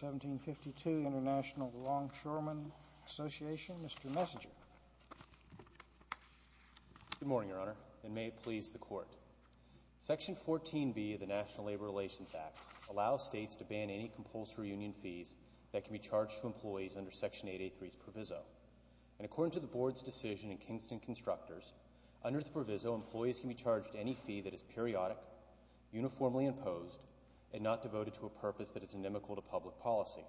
1752, Intl. Longshoremen Association. Mr. Messinger. Good morning, Your Honor, and may it please the Court. Section 14b of the National Labor Relations Act allows states to ban any compulsory union fees that can be charged to employees under Section 883's proviso. And according to the Board's decision in Kingston Constructors, under the proviso, employees can be charged any fee that is periodic, uniformly imposed, and not devoted to a purpose that is inimical to public policy.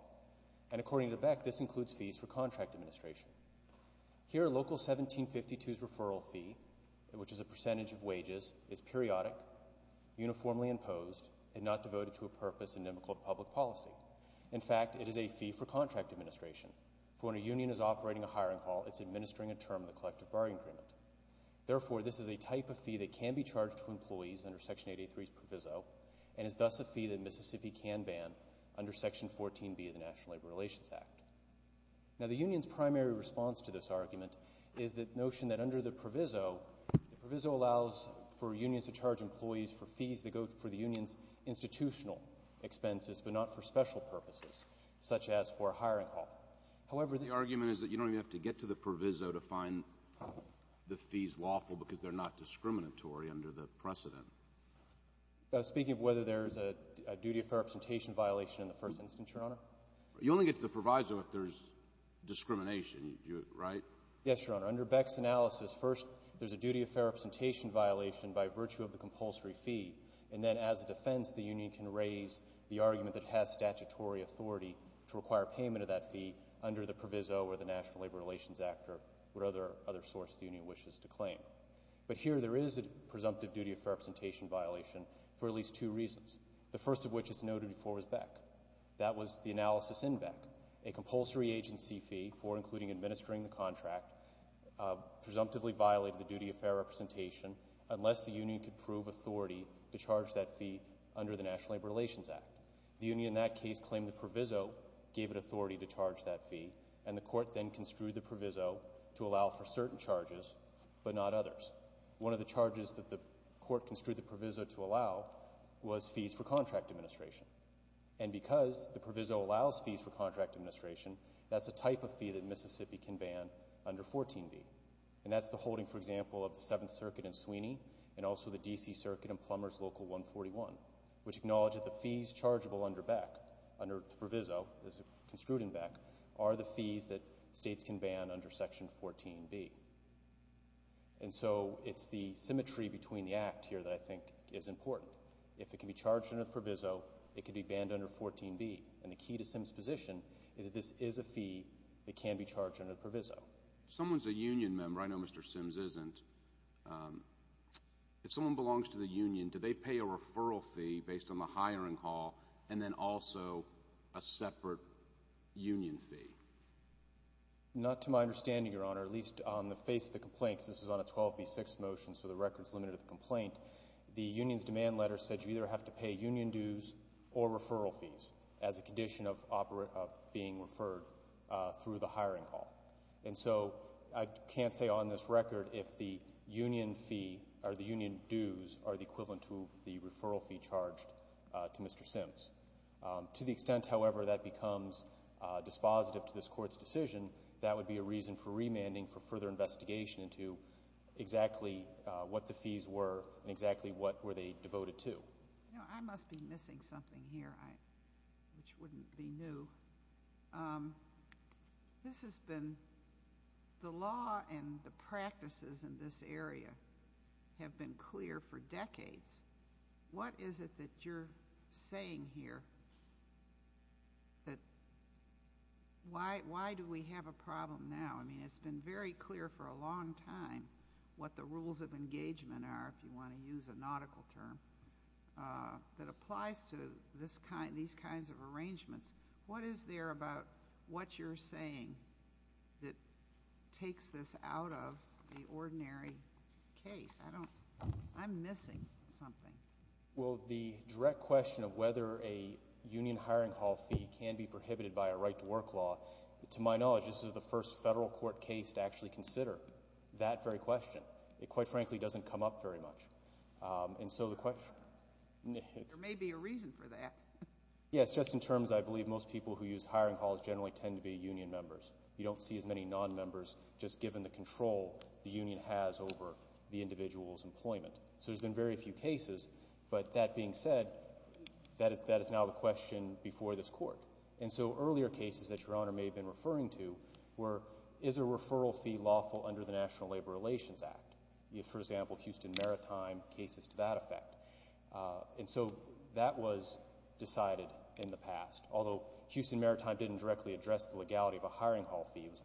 And according to Beck, this includes fees for contract administration. Here, Local 1752's referral fee, which is a percentage of wages, is periodic, uniformly imposed, and not devoted to a purpose inimical to public policy. In fact, it is a fee for contract administration, for when a union is operating a hiring hall, it's administering a term of the collective bargaining agreement. Therefore, this is a type of fee that can be charged to employees under Section 883's proviso and is thus a fee that Mississippi can ban under Section 14b of the National Labor Relations Act. Now, the union's primary response to this argument is the notion that under the proviso, the proviso allows for unions to charge employees for fees that go for the union's institutional expenses, but not for special purposes, such as for a hiring hall. However, this is — The argument is that you don't even have to get to the proviso to find the fees lawful because they're not discriminatory under the precedent. Speaking of whether there's a duty of fair representation violation in the first instance, Your Honor? You only get to the proviso if there's discrimination, right? Yes, Your Honor. Under Beck's analysis, first, there's a duty of fair representation violation by virtue of the compulsory fee, and then as a defense, the union can raise the argument that it has statutory authority to require payment of that fee under the proviso or the National Labor Relations Act or whatever other source the union wishes to claim. But here there is a presumptive duty of fair representation violation for at least two reasons, the first of which, as noted before, was Beck. That was the analysis in Beck. A compulsory agency fee for including administering the contract presumptively violated the duty of fair representation unless the union could prove authority to charge that fee under the National Labor Relations Act. The union in that case claimed the proviso gave it authority to charge that fee, and the court then construed the proviso to allow for certain charges but not others. One of the charges that the court construed the proviso to allow was fees for contract administration. And because the proviso allows fees for contract administration, that's a type of fee that Mississippi can ban under 14b. And that's the holding, for example, of the Seventh Circuit in Sweeney and also the D.C. Circuit in Plumbers Local 141, which acknowledge that the fees chargeable under Beck, under the proviso construed in it, states can ban under Section 14b. And so it's the symmetry between the act here that I think is important. If it can be charged under the proviso, it can be banned under 14b. And the key to Sims' position is that this is a fee that can be charged under the proviso. If someone's a union member, I know Mr. Sims isn't, if someone belongs to the union, do they pay a referral fee based on the hiring call and then also a separate union fee? Not to my understanding, Your Honor, at least on the face of the complaints, this is on a 12b6 motion, so the record's limited to the complaint. The union's demand letter said you either have to pay union dues or referral fees as a condition of being referred through the hiring call. And so I can't say on this record if the union fee or the union dues are the equivalent to the referral fee charged to Mr. Sims. To the extent, however, that becomes dispositive to this Court's decision, that would be a reason for remanding for further investigation into exactly what the fees were and exactly what were they devoted to. I must be missing something here, which wouldn't be new. This has been the law and the practices in this area have been clear for decades. What is it that you're saying here that why do we have a problem now? I mean, it's been very clear for a long time what the rules of engagement are, if you want to use a nautical term, that applies to these kinds of arrangements. What is there about what you're saying that takes this out of the ordinary case? I'm missing something. Well, the direct question of whether a union hiring call fee can be prohibited by a right to work law, to my knowledge, this is the first federal court case to actually consider that very question. It, quite frankly, doesn't come up very much. And so the question There may be a reason for that. Yes, just in terms, I believe most people who use hiring calls generally tend to be union members. You don't see as many non-members, just given the control the union has over the individual's employment. So there's been very few cases. But that being said, that is now the question before this court. And so earlier cases that Your Honor may have been referring to were, is a referral fee lawful under the National Labor Relations Act? For example, Houston Maritime cases to that effect. And so that was decided in the past. Although Houston Maritime didn't directly address the legality of a hiring call fees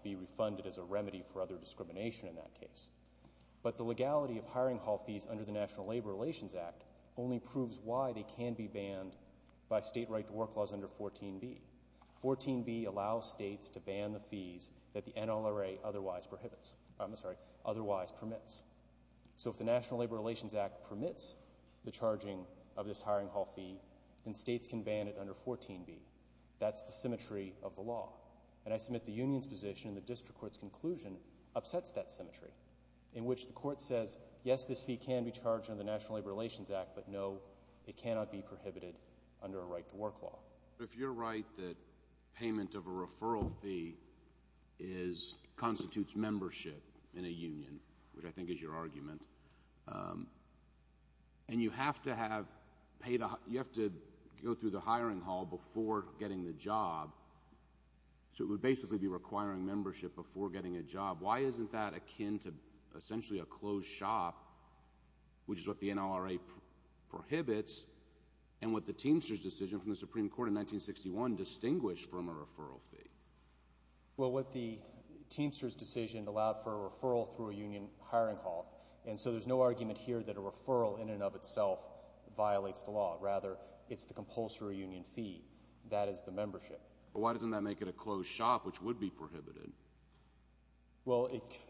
be refunded as a remedy for other discrimination in that case. But the legality of hiring call fees under the National Labor Relations Act only proves why they can be banned by state right to work laws under 14B. 14B allows states to ban the fees that the NLRA otherwise prohibits, I'm sorry, otherwise permits. So if the National Labor Relations Act permits the charging of this hiring call fee, then states can ban it under 14B. That's the symmetry of the law. And I submit the union's position and the district court's conclusion upsets that symmetry, in which the court says, yes, this fee can be charged under the National Labor Relations Act, but no, it cannot be prohibited under a right to work law. But if you're right that payment of a referral fee is, constitutes membership in a union, which I think is your argument, and you have to have paid a, you have to go through the hiring hall before getting the job, so it would basically be requiring membership before getting a job. Why isn't that akin to essentially a closed shop, which is what the NLRA prohibits, and what the Teamsters decision from the Supreme Court in 1961 distinguished from a referral fee? Well, what the Teamsters decision allowed for a referral through a union hiring hall. And so there's no argument here that a referral in and of itself violates the law. Rather, it's the compulsory union fee. That is the membership. But why doesn't that make it a closed shop, which would be prohibited? Well,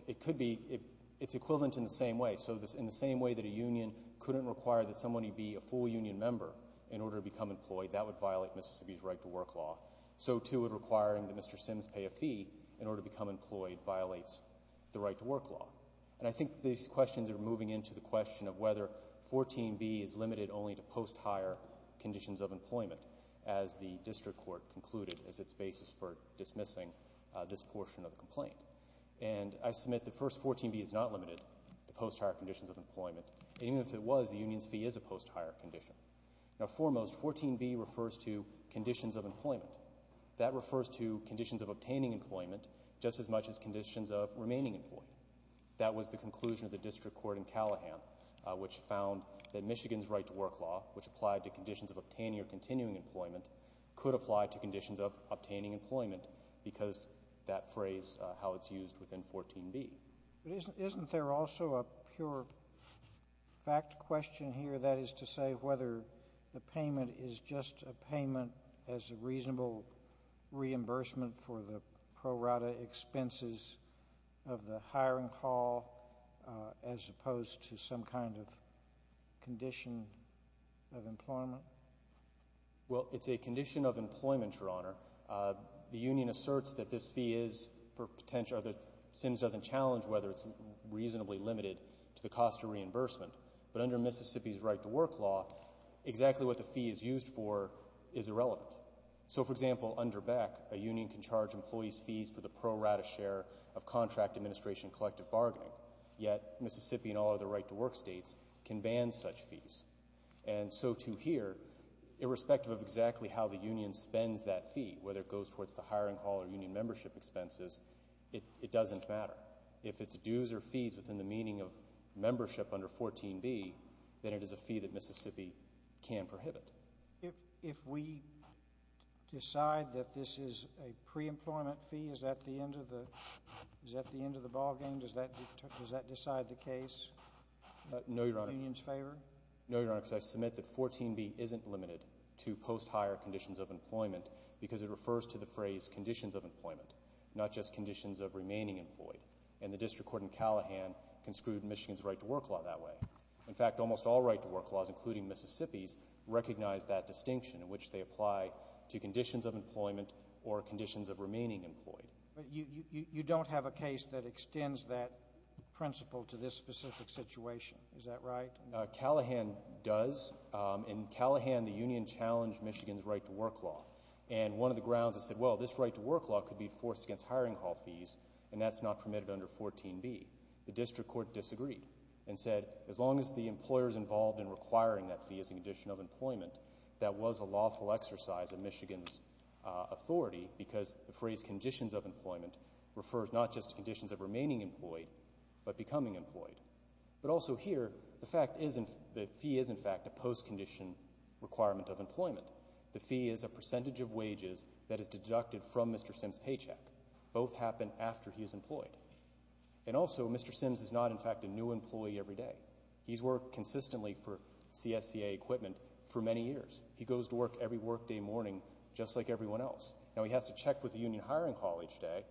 it could be. It's equivalent in the same way. So in the same way that a union couldn't require that somebody be a full union member in order to become employed, that would violate Mississippi's right to work law. So, too, would requiring that Mr. Sims pay a fee in order to become employed violates the right to work law. And I think these questions are moving into the question of whether 14b is limited only to post-hire conditions of employment, as the district court concluded as its basis for dismissing this portion of the complaint. And I submit that, first, 14b is not limited to post-hire conditions of employment. Even if it was, the union's fee is a post-hire condition. Now, foremost, 14b refers to conditions of employment. That refers to conditions of the district court in Callahan, which found that Michigan's right to work law, which applied to conditions of obtaining or continuing employment, could apply to conditions of obtaining employment because that phrase, how it's used within 14b. But isn't there also a pure fact question here, that is to say whether the payment is just a payment as a reasonable reimbursement for the pro rata expenses of the hiring hall as opposed to some kind of condition of employment? Well, it's a condition of employment, Your Honor. The union asserts that this fee is for potential or that Sims doesn't challenge whether it's reasonably limited to the cost of reimbursement. But under Mississippi's right to work law, exactly what the fee is used for is irrelevant. So, for example, under Beck, a union can charge employees fees for the pro rata share of contract administration collective bargaining, yet Mississippi and all other right to work states can ban such fees. And so, too, here, irrespective of exactly how the union spends that fee, whether it goes towards the hiring hall or union membership expenses, it doesn't matter. If it's dues or fees within the meaning of membership under 14b, then it is a fee that Mississippi can prohibit. If we decide that this is a preemployment fee, is that the end of the ball game? Does that decide the case in the union's favor? No, Your Honor, because I submit that 14b isn't limited to post-hire conditions of employment because it refers to the phrase conditions of employment, not just conditions of remaining employed. And the district court in Callahan construed Michigan's right to work law that way. In fact, almost all right to work laws, including Mississippi's, recognize that distinction in which they apply to conditions of employment or conditions of remaining employed. But you don't have a case that extends that principle to this specific situation. Is that right? Callahan does. In Callahan, the union challenged Michigan's right to work law. And one of the grounds, it said, well, this right to work law could be forced against hiring hall fees, and that's not permitted under 14b. The district court disagreed and said, as long as the employer's involved in requiring that fee as a condition of employment, that was a lawful exercise of Michigan's authority because the phrase conditions of employment refers not just to conditions of remaining employed but becoming employed. But also here, the fact is the fee is, in fact, a post-condition requirement of employment. The fee is a percentage of wages that is deducted from Mr. Sims' paycheck. Both happen after he is employed. And also, Mr. Sims is not, in fact, a new employee every day. He's worked consistently for CSCA equipment for many years. He goes to work every workday morning, just like everyone else. Now, he has to check with the union hiring hall each day,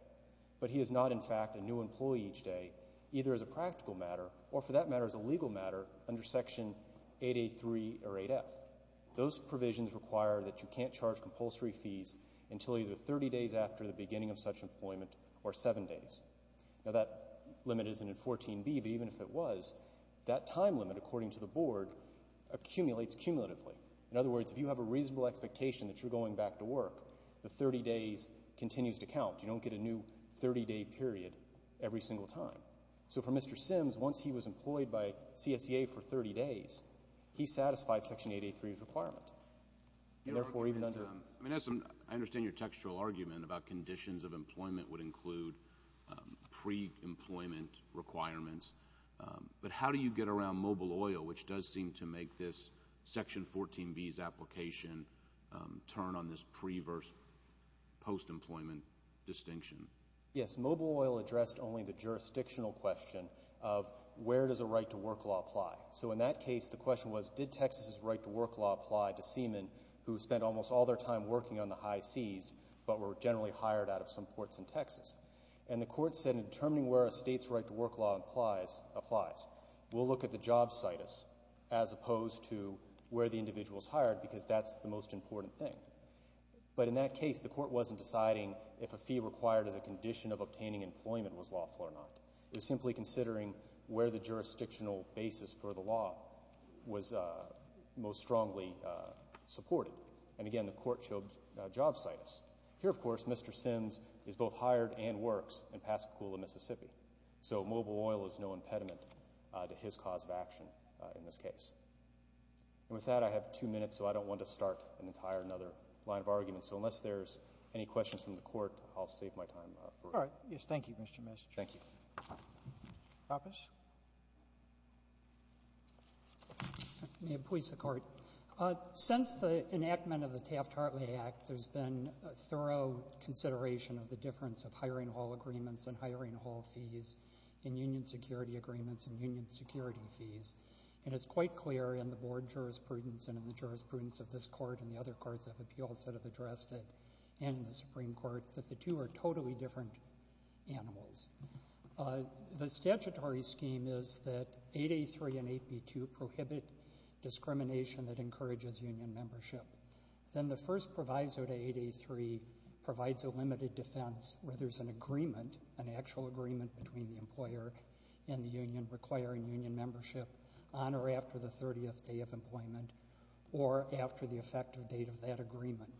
but he is not, in fact, a new employee each day, either as a practical matter or, for that matter, as a legal matter under Section 883 or 8F. Those provisions require that you can't charge compulsory fees until either 30 days after the beginning of such employment or seven days. Now, that limit isn't in 14B, but even if it was, that time limit, according to the Board, accumulates cumulatively. In other words, if you have a reasonable expectation that you're going back to work, the 30 days continues to count. You don't get a new 30-day period every single time. So for Mr. Sims, once he was employed by CSCA for 30 days, he satisfied Section 883's requirement. I mean, I understand your textual argument about conditions of employment would include pre-employment requirements, but how do you get around mobile oil, which does seem to make this Section 14B's application turn on this pre-versus post-employment distinction? Yes, mobile oil addressed only the jurisdictional question of where does a right to work law apply. So in that case, the question was, did Texas's right to work law apply to seamen who spent almost all their time working on the high seas but were generally hired out of some ports in Texas? And the Court said in determining where a State's right to work law applies, we'll look at the job situs as opposed to where the individual is hired, because that's the most important thing. But in that case, the Court wasn't deciding if a fee required as a condition of obtaining employment was lawful or not. It was simply considering where the jurisdictional basis for the law was most strongly supported. And again, the Court showed job situs. Here, of course, Mr. Sims is both hired and works in Pascagoula, Mississippi. So mobile oil is no impediment to his cause of action in this case. And with that, I have two minutes, so I don't want to start an entire other line of argument. So unless there's any questions from the Court, I'll save my time for it. All right. Yes, thank you, Mr. Messick. Thank you. Roberts. May it please the Court. Since the enactment of the Taft-Hartley Act, there's been a thorough consideration of the difference of hiring hall agreements and hiring hall fees and union security agreements and union security fees. And it's quite clear in the Board jurisprudence and in the jurisprudence of this Court and the other courts of appeals that have addressed it and in the Supreme Court that the two are totally different animals. The statutory scheme is that 8A3 and 8B2 prohibit discrimination that encourages union membership. Then the first proviso to 8A3 provides a limited defense where there's an agreement, an actual agreement between the employer and the union requiring union membership on or after the 30th day of employment or after the effective date of that agreement.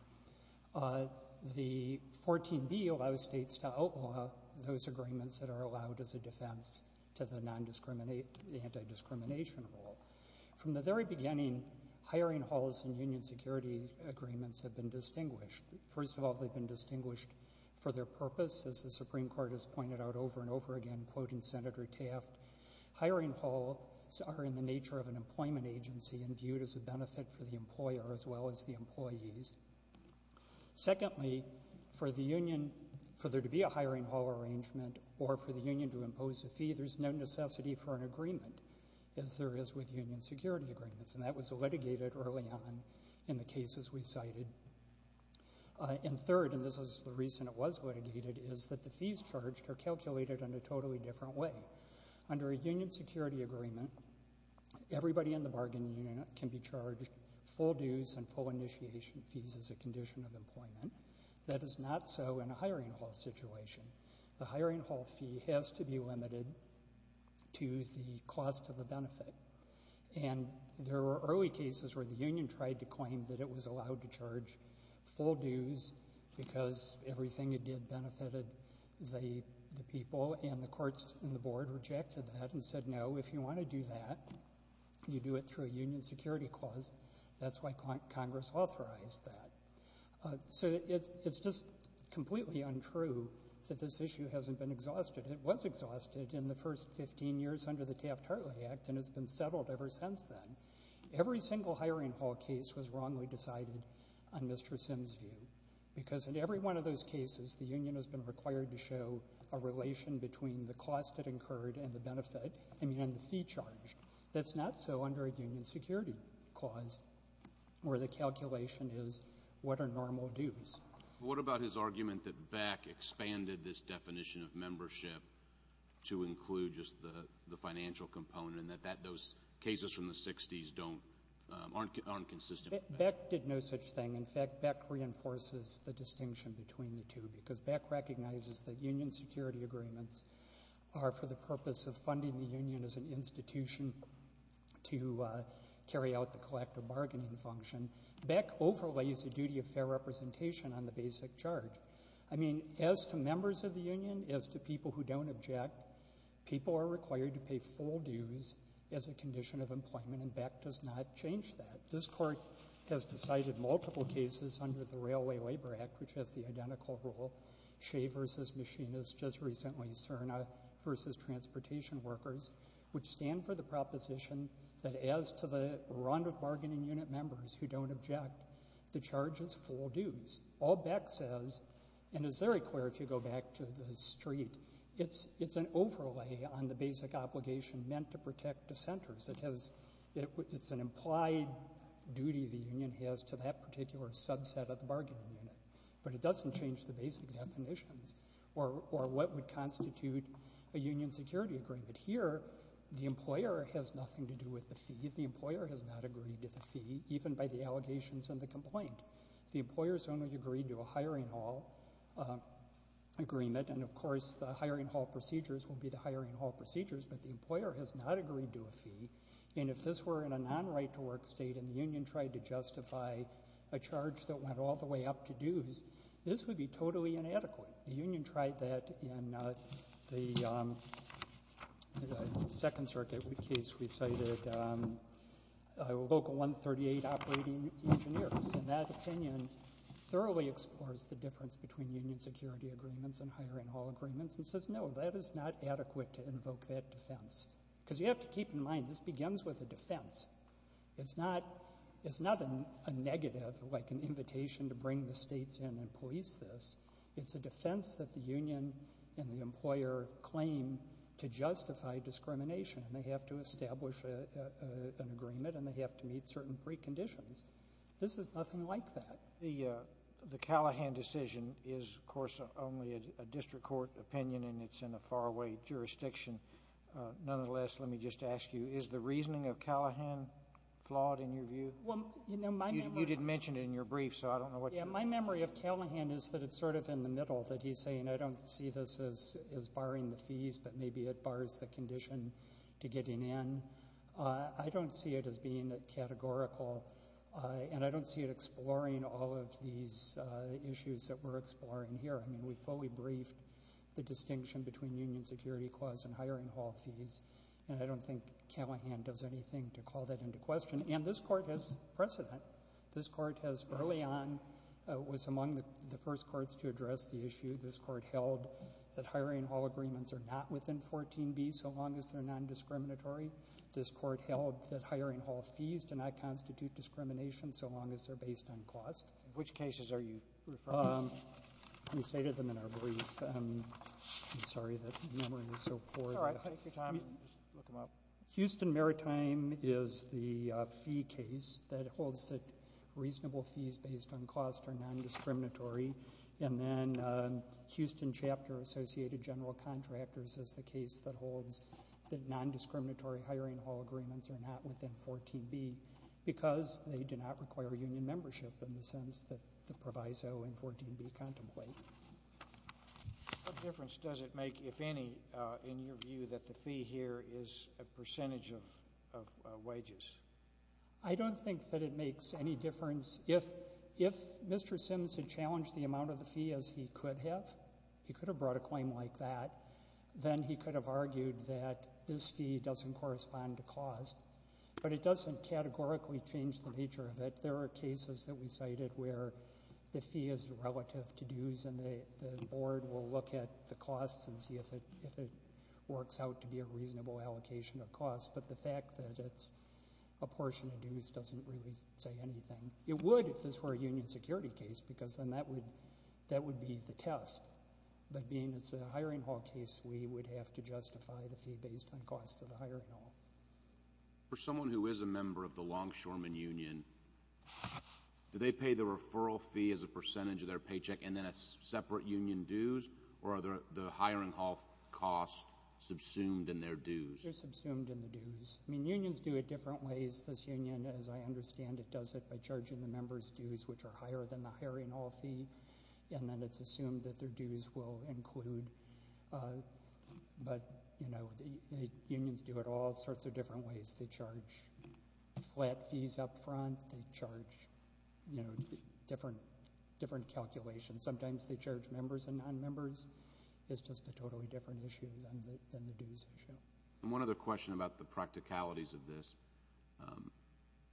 The 14B allows states to outlaw those agreements that are allowed as a defense to the anti-discrimination rule. From the very beginning, hiring halls and union security agreements have been distinguished. First of all, they've been distinguished for their purpose. As the Supreme Court has pointed out over and over again, quoting Senator Taft, hiring halls are in the nature of an employment agency and viewed as a benefit for the employer as well as the employees. Secondly, for the union, for there to be a hiring hall arrangement or for the union to impose a fee, there's no necessity for an agreement as there is with union security agreements. And that was litigated early on in the cases we cited. And third, and this is the reason it was litigated, is that the fees charged are calculated in a totally different way. Under a union security agreement, everybody in the bargain unit can be charged full dues and full initiation fees as a condition of employment. That is not so in a hiring hall situation. The hiring hall fee has to be limited to the cost of the benefit. And there were early cases where the union tried to claim that it was allowed to charge full dues because everything it benefited the people, and the courts and the board rejected that and said, no, if you want to do that, you do it through a union security clause. That's why Congress authorized that. So it's just completely untrue that this issue hasn't been exhausted. It was exhausted in the first 15 years under the Taft-Hartley Act, and it's been settled ever since then. Every single hiring hall case was wrongly decided on Mr. Sims' view, because in every one of those cases, the union has been required to show a relation between the cost it incurred and the benefit, I mean, and the fee charged. That's not so under a union security clause, where the calculation is what are normal dues. But what about his argument that Beck expanded this definition of membership to include just the financial component, and that those cases from the 60s don't — aren't consistent with Beck? Beck did no such thing. In fact, Beck reinforces the distinction between the two, because Beck recognizes that union security agreements are for the purpose of funding the union as an institution to carry out the collective bargaining function. Beck overlays the duty of fair representation on the basic charge. I mean, as to members of the union, as to people who don't object, people are required to pay full dues as a union. Beck has cited multiple cases under the Railway Labor Act, which has the identical rule, Shay versus Machinists, just recently CERNA versus transportation workers, which stand for the proposition that as to the run of bargaining unit members who don't object, the charge is full dues. All Beck says, and it's very clear if you go back to the street, it's an overlay on the basic obligation meant to protect dissenters. It has — it's an implied duty the union has to that particular subset of the bargaining unit, but it doesn't change the basic definitions or what would constitute a union security agreement. Here, the employer has nothing to do with the fee. The employer has not agreed to the fee, even by the allegations and the complaint. The employer has only agreed to a hiring hall agreement, and, of course, the hiring hall procedures will be the hiring hall procedures, but the employer has not agreed to a fee. And if this were in a non-right-to-work state and the union tried to justify a charge that went all the way up to dues, this would be totally inadequate. The union tried that in the Second Circuit case we cited, local 138 operating engineers, and that opinion thoroughly explores the difference between union security agreements and hiring hall agreements and says, no, that is not adequate to invoke that defense. Because you have to keep in mind, this begins with a defense. It's not — it's not a negative, like an invitation to bring the states in and police this. It's a defense that the union and the employer claim to justify discrimination, and they have to establish an agreement, and they have to meet certain preconditions. This is nothing like that. The Callahan decision is, of course, only a district court opinion, and it's in a faraway jurisdiction. Nonetheless, let me just ask you, is the reasoning of Callahan flawed in your view? Well, you know, my memory of — You didn't mention it in your brief, so I don't know what you — Yeah. My memory of Callahan is that it's sort of in the middle, that he's saying, I don't see this as barring the fees, but maybe it bars the condition to getting in. I don't see it as being categorical, and I don't see it exploring all of these issues that we're exploring here. I mean, we fully briefed the distinction between union security clause and hiring hall fees, and I don't think Callahan does anything to call that into question. And this Court has precedent. This Court has, early on, was among the first courts to address the issue. This Court held that hiring hall agreements are not within 14b so long as they're nondiscriminatory. This Court held that hiring hall fees do not constitute discrimination so long as they're based on cost. Which cases are you referring to? Let me say to them in our brief. I'm sorry that memory is so poor. It's all right. Take your time. Just look them up. Houston Maritime is the fee case that holds that reasonable fees based on cost are nondiscriminatory, and then Houston Chapter Associated General Contractors is the case that holds that nondiscriminatory hiring hall agreements are not within 14b because they do not require union membership in the sense that the proviso in 14b contemplate. What difference does it make, if any, in your view, that the fee here is a percentage of wages? I don't think that it makes any difference. If Mr. Sims had challenged the amount of the fee as he could have, he could have brought a claim like that, then he could have argued that this fee doesn't correspond to cost. But it doesn't categorically change the nature of it. There are cases that we cited where the fee is relative to dues and the Board will look at the costs and see if it works out to be a reasonable allocation of costs. But the fact that it's a portion of dues doesn't really say anything. It would if this were a union security case because then that would be the test. But being it's a hiring hall case, we would have to justify the fee based on cost of the hiring hall. For someone who is a member of the Longshoremen Union, do they pay the referral fee as a percentage of their paycheck and then a separate union dues, or are the hiring hall costs subsumed in their dues? They're subsumed in the dues. I mean, unions do it different ways. This union, as I understand it, does it by charging the members' dues, which are higher than the hiring hall fee, and then it's assumed that their dues will include. But, you know, the unions do it all sorts of different ways. They charge flat fees up front. They charge, you know, different calculations. Sometimes they charge members and non-members. It's just a totally different issue than the dues issue. And one other question about the practicalities of this,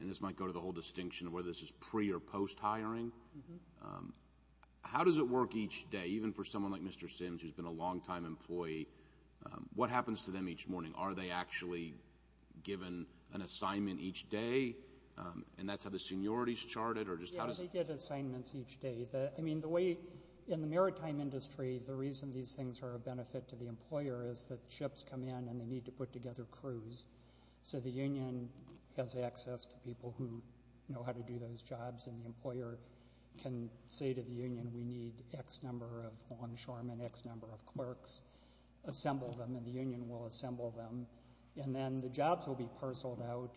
and this might go to the whole distinction of whether this is pre- or post-hiring. How does it work each day, even for someone like Mr. Sims, who's been a long-time employee? What happens to them each morning? Are they actually given an assignment each day, and that's how the seniority is charted, or just how does it work? Yeah, they get assignments each day. I mean, the way in the maritime industry, the reason these things are a benefit to the employer is that ships come in and they need to put together crews. So the union has access to people who know how to do those jobs, and the employer can say to the union, we need X number of longshoremen, X number of clerks. Assemble them, and the union will assemble them, and then the jobs will be parceled out.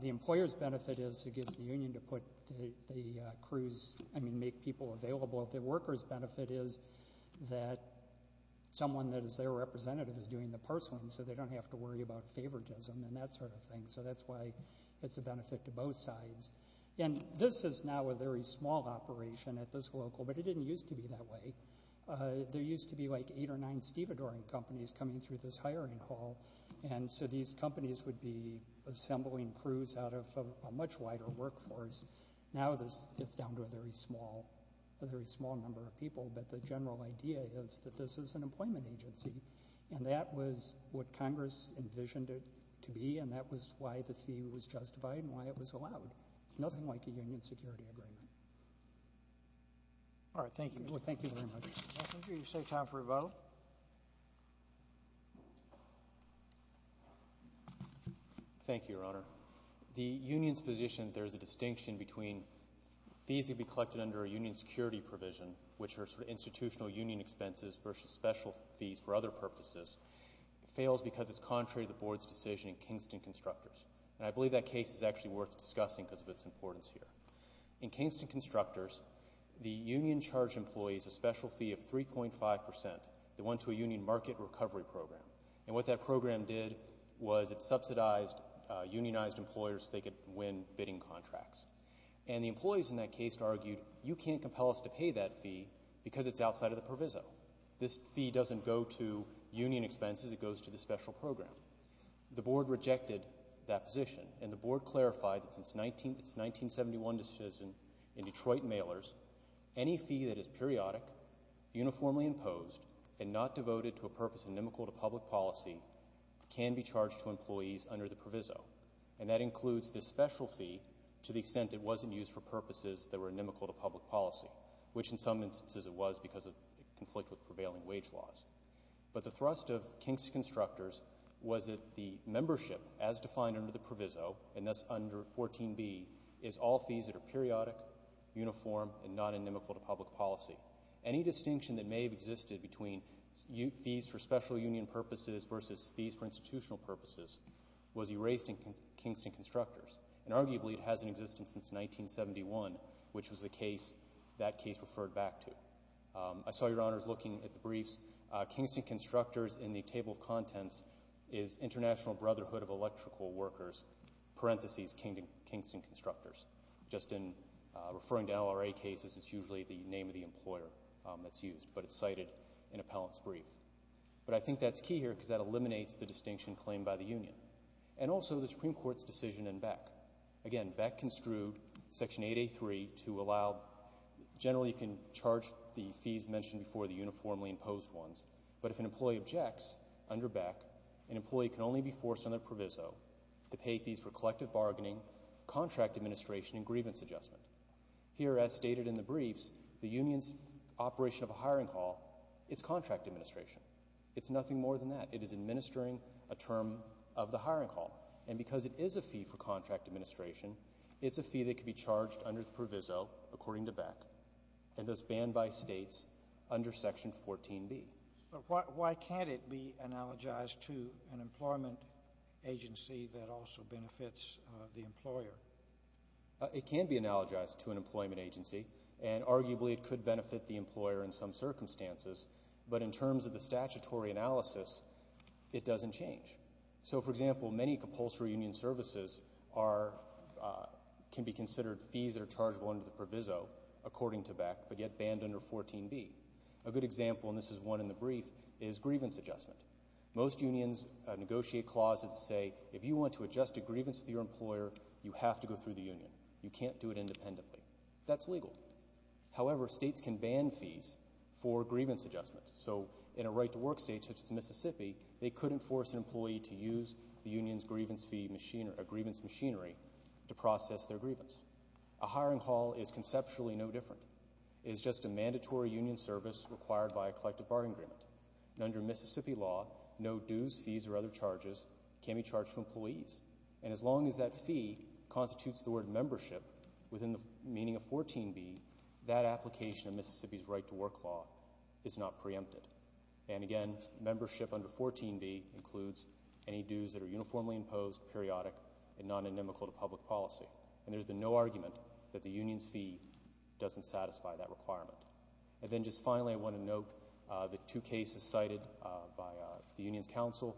The employer's benefit is it gives the union to put the crews, I mean, make people available. The worker's benefit is that someone that is their representative is doing the parceling, so they don't have to worry about favoritism and that sort of thing. So that's why it's a benefit to both sides. And this is now a very small operation at this local, but it didn't used to be that way. There used to be, like, eight or nine stevedoring companies coming through this hiring hall, and so these companies would be assembling crews out of a much wider workforce. Now this gets down to a very small, a very small number of people, but the general idea is that this is an employment agency, and that was what Congress envisioned it to be, and that was why the fee was justified and why it was allowed. Nothing like a union security agreement. All right, thank you. Well, thank you very much. Mr. Messenger, you save time for a vote. Thank you, Your Honor. The union's position, there's a distinction between fees that would be collected under a union security provision, which are sort of institutional union expenses versus special fees for other purposes, fails because it's contrary to the board's decision in Kingston Constructors. And I believe that case is actually worth discussing because of its importance here. In Kingston Constructors, the union charged employees a special fee of 3.5 percent that went to a union market recovery program, and what that program did was it subsidized, unionized employers so they could win bidding contracts. And the employees in that case argued, you can't compel us to pay that fee because it's outside of the proviso. This fee doesn't go to union expenses. It goes to the special program. The board rejected that position, and the board clarified that since its 1971 decision in Detroit Mailers, any fee that is periodic, uniformly imposed, and not devoted to a purpose inimical to public policy can be charged to employees under the proviso. And that includes the special fee to the extent it wasn't used for purposes that were inimical to public policy, which in some instances it was because of conflict with prevailing wage laws. But the thrust of Kingston Constructors was that the membership, as defined under the proviso, and that's under 14b, is all fees that are periodic, uniform, and not inimical to public policy. Any distinction that may have existed between fees for special union purposes versus fees for institutional purposes was erased in Kingston Constructors, and arguably it hasn't existed since 1971, which was the case that case referred back to. I saw Your Honors looking at the briefs. Kingston Constructors in the table of contents is International Brotherhood of Electrical Workers, parentheses, Kingston Constructors. Just in referring to LRA cases, it's usually the name of the employer that's used, but it's cited in appellant's brief. But I think that's key here because that eliminates the distinction claimed by the union. And also the Supreme Court's decision in Beck. Again, Beck construed Section 8A.3 to allow — generally you can charge the fees mentioned before, the uniformly imposed ones, but if an employee objects under Beck, an employee can only be forced under proviso to pay fees for collective bargaining, contract administration, and grievance adjustment. Here, as stated in the briefs, the union's operation of a hiring hall, it's contract administration. It's nothing more than that. It is administering a term of the hiring hall. And because it is a fee for contract administration, it's a fee that could be charged under the proviso, according to Beck, and thus banned by States under Section 14B. But why can't it be analogized to an employment agency that also benefits the employer? It can be analogized to an employment agency, and arguably it could benefit the employer in some circumstances, but in terms of the statutory analysis, it doesn't change. So, for example, many compulsory union services are — can be considered fees that are chargeable under the proviso, according to Beck, but yet banned under 14B. A good example, and this is one in the brief, is grievance adjustment. Most unions negotiate clauses that say if you want to adjust a grievance with your employer, you have to go through the union. You can't do it independently. That's legal. However, States can ban fees for grievance adjustment. So in a right-to-work State, such as Mississippi, they couldn't force an employee to use the union's grievance fee machinery — a grievance machinery to process their grievance. A hiring hall is conceptually no different. It is just a mandatory union service required by a collective bargaining agreement. And under Mississippi law, no dues, fees, or other charges can be charged to employees. And as long as that fee constitutes the word membership, within the meaning of 14B, that application of Mississippi's right-to-work law is not preempted. And again, membership under 14B includes any dues that are uniformly imposed, periodic, and non-anonymical to public policy. And there's been no argument that the union's fee doesn't satisfy that requirement. And then just finally, I want to note the two cases cited by the Union's counsel.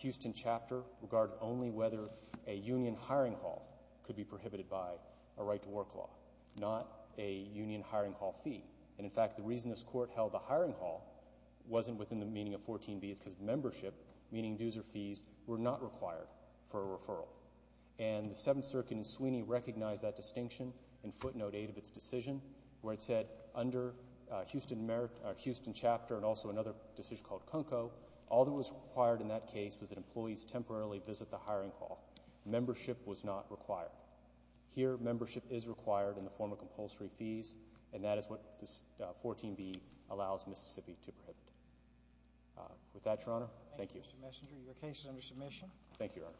Houston Chapter regarded only whether a union hiring hall could be prohibited by a right-to-work law, not a union hiring hall fee. And in fact, the reason this Court held the hiring hall wasn't within the meaning of 14B is because membership, meaning dues or fees, were not required for a referral. And the Seventh Circuit in Sweeney recognized that distinction in footnote 8 of its decision, where it said under Houston Merit or Houston Chapter and also another decision called CUNCO, all that was required in that case was that employees temporarily visit the hiring hall. Membership was not required. Here, membership is required in the form of compulsory fees, and that is what 14B allows Mississippi to prohibit. With that, Your Honor, thank you. Thank you, Mr. Messenger. Your case is under submission. Thank you, Your Honor.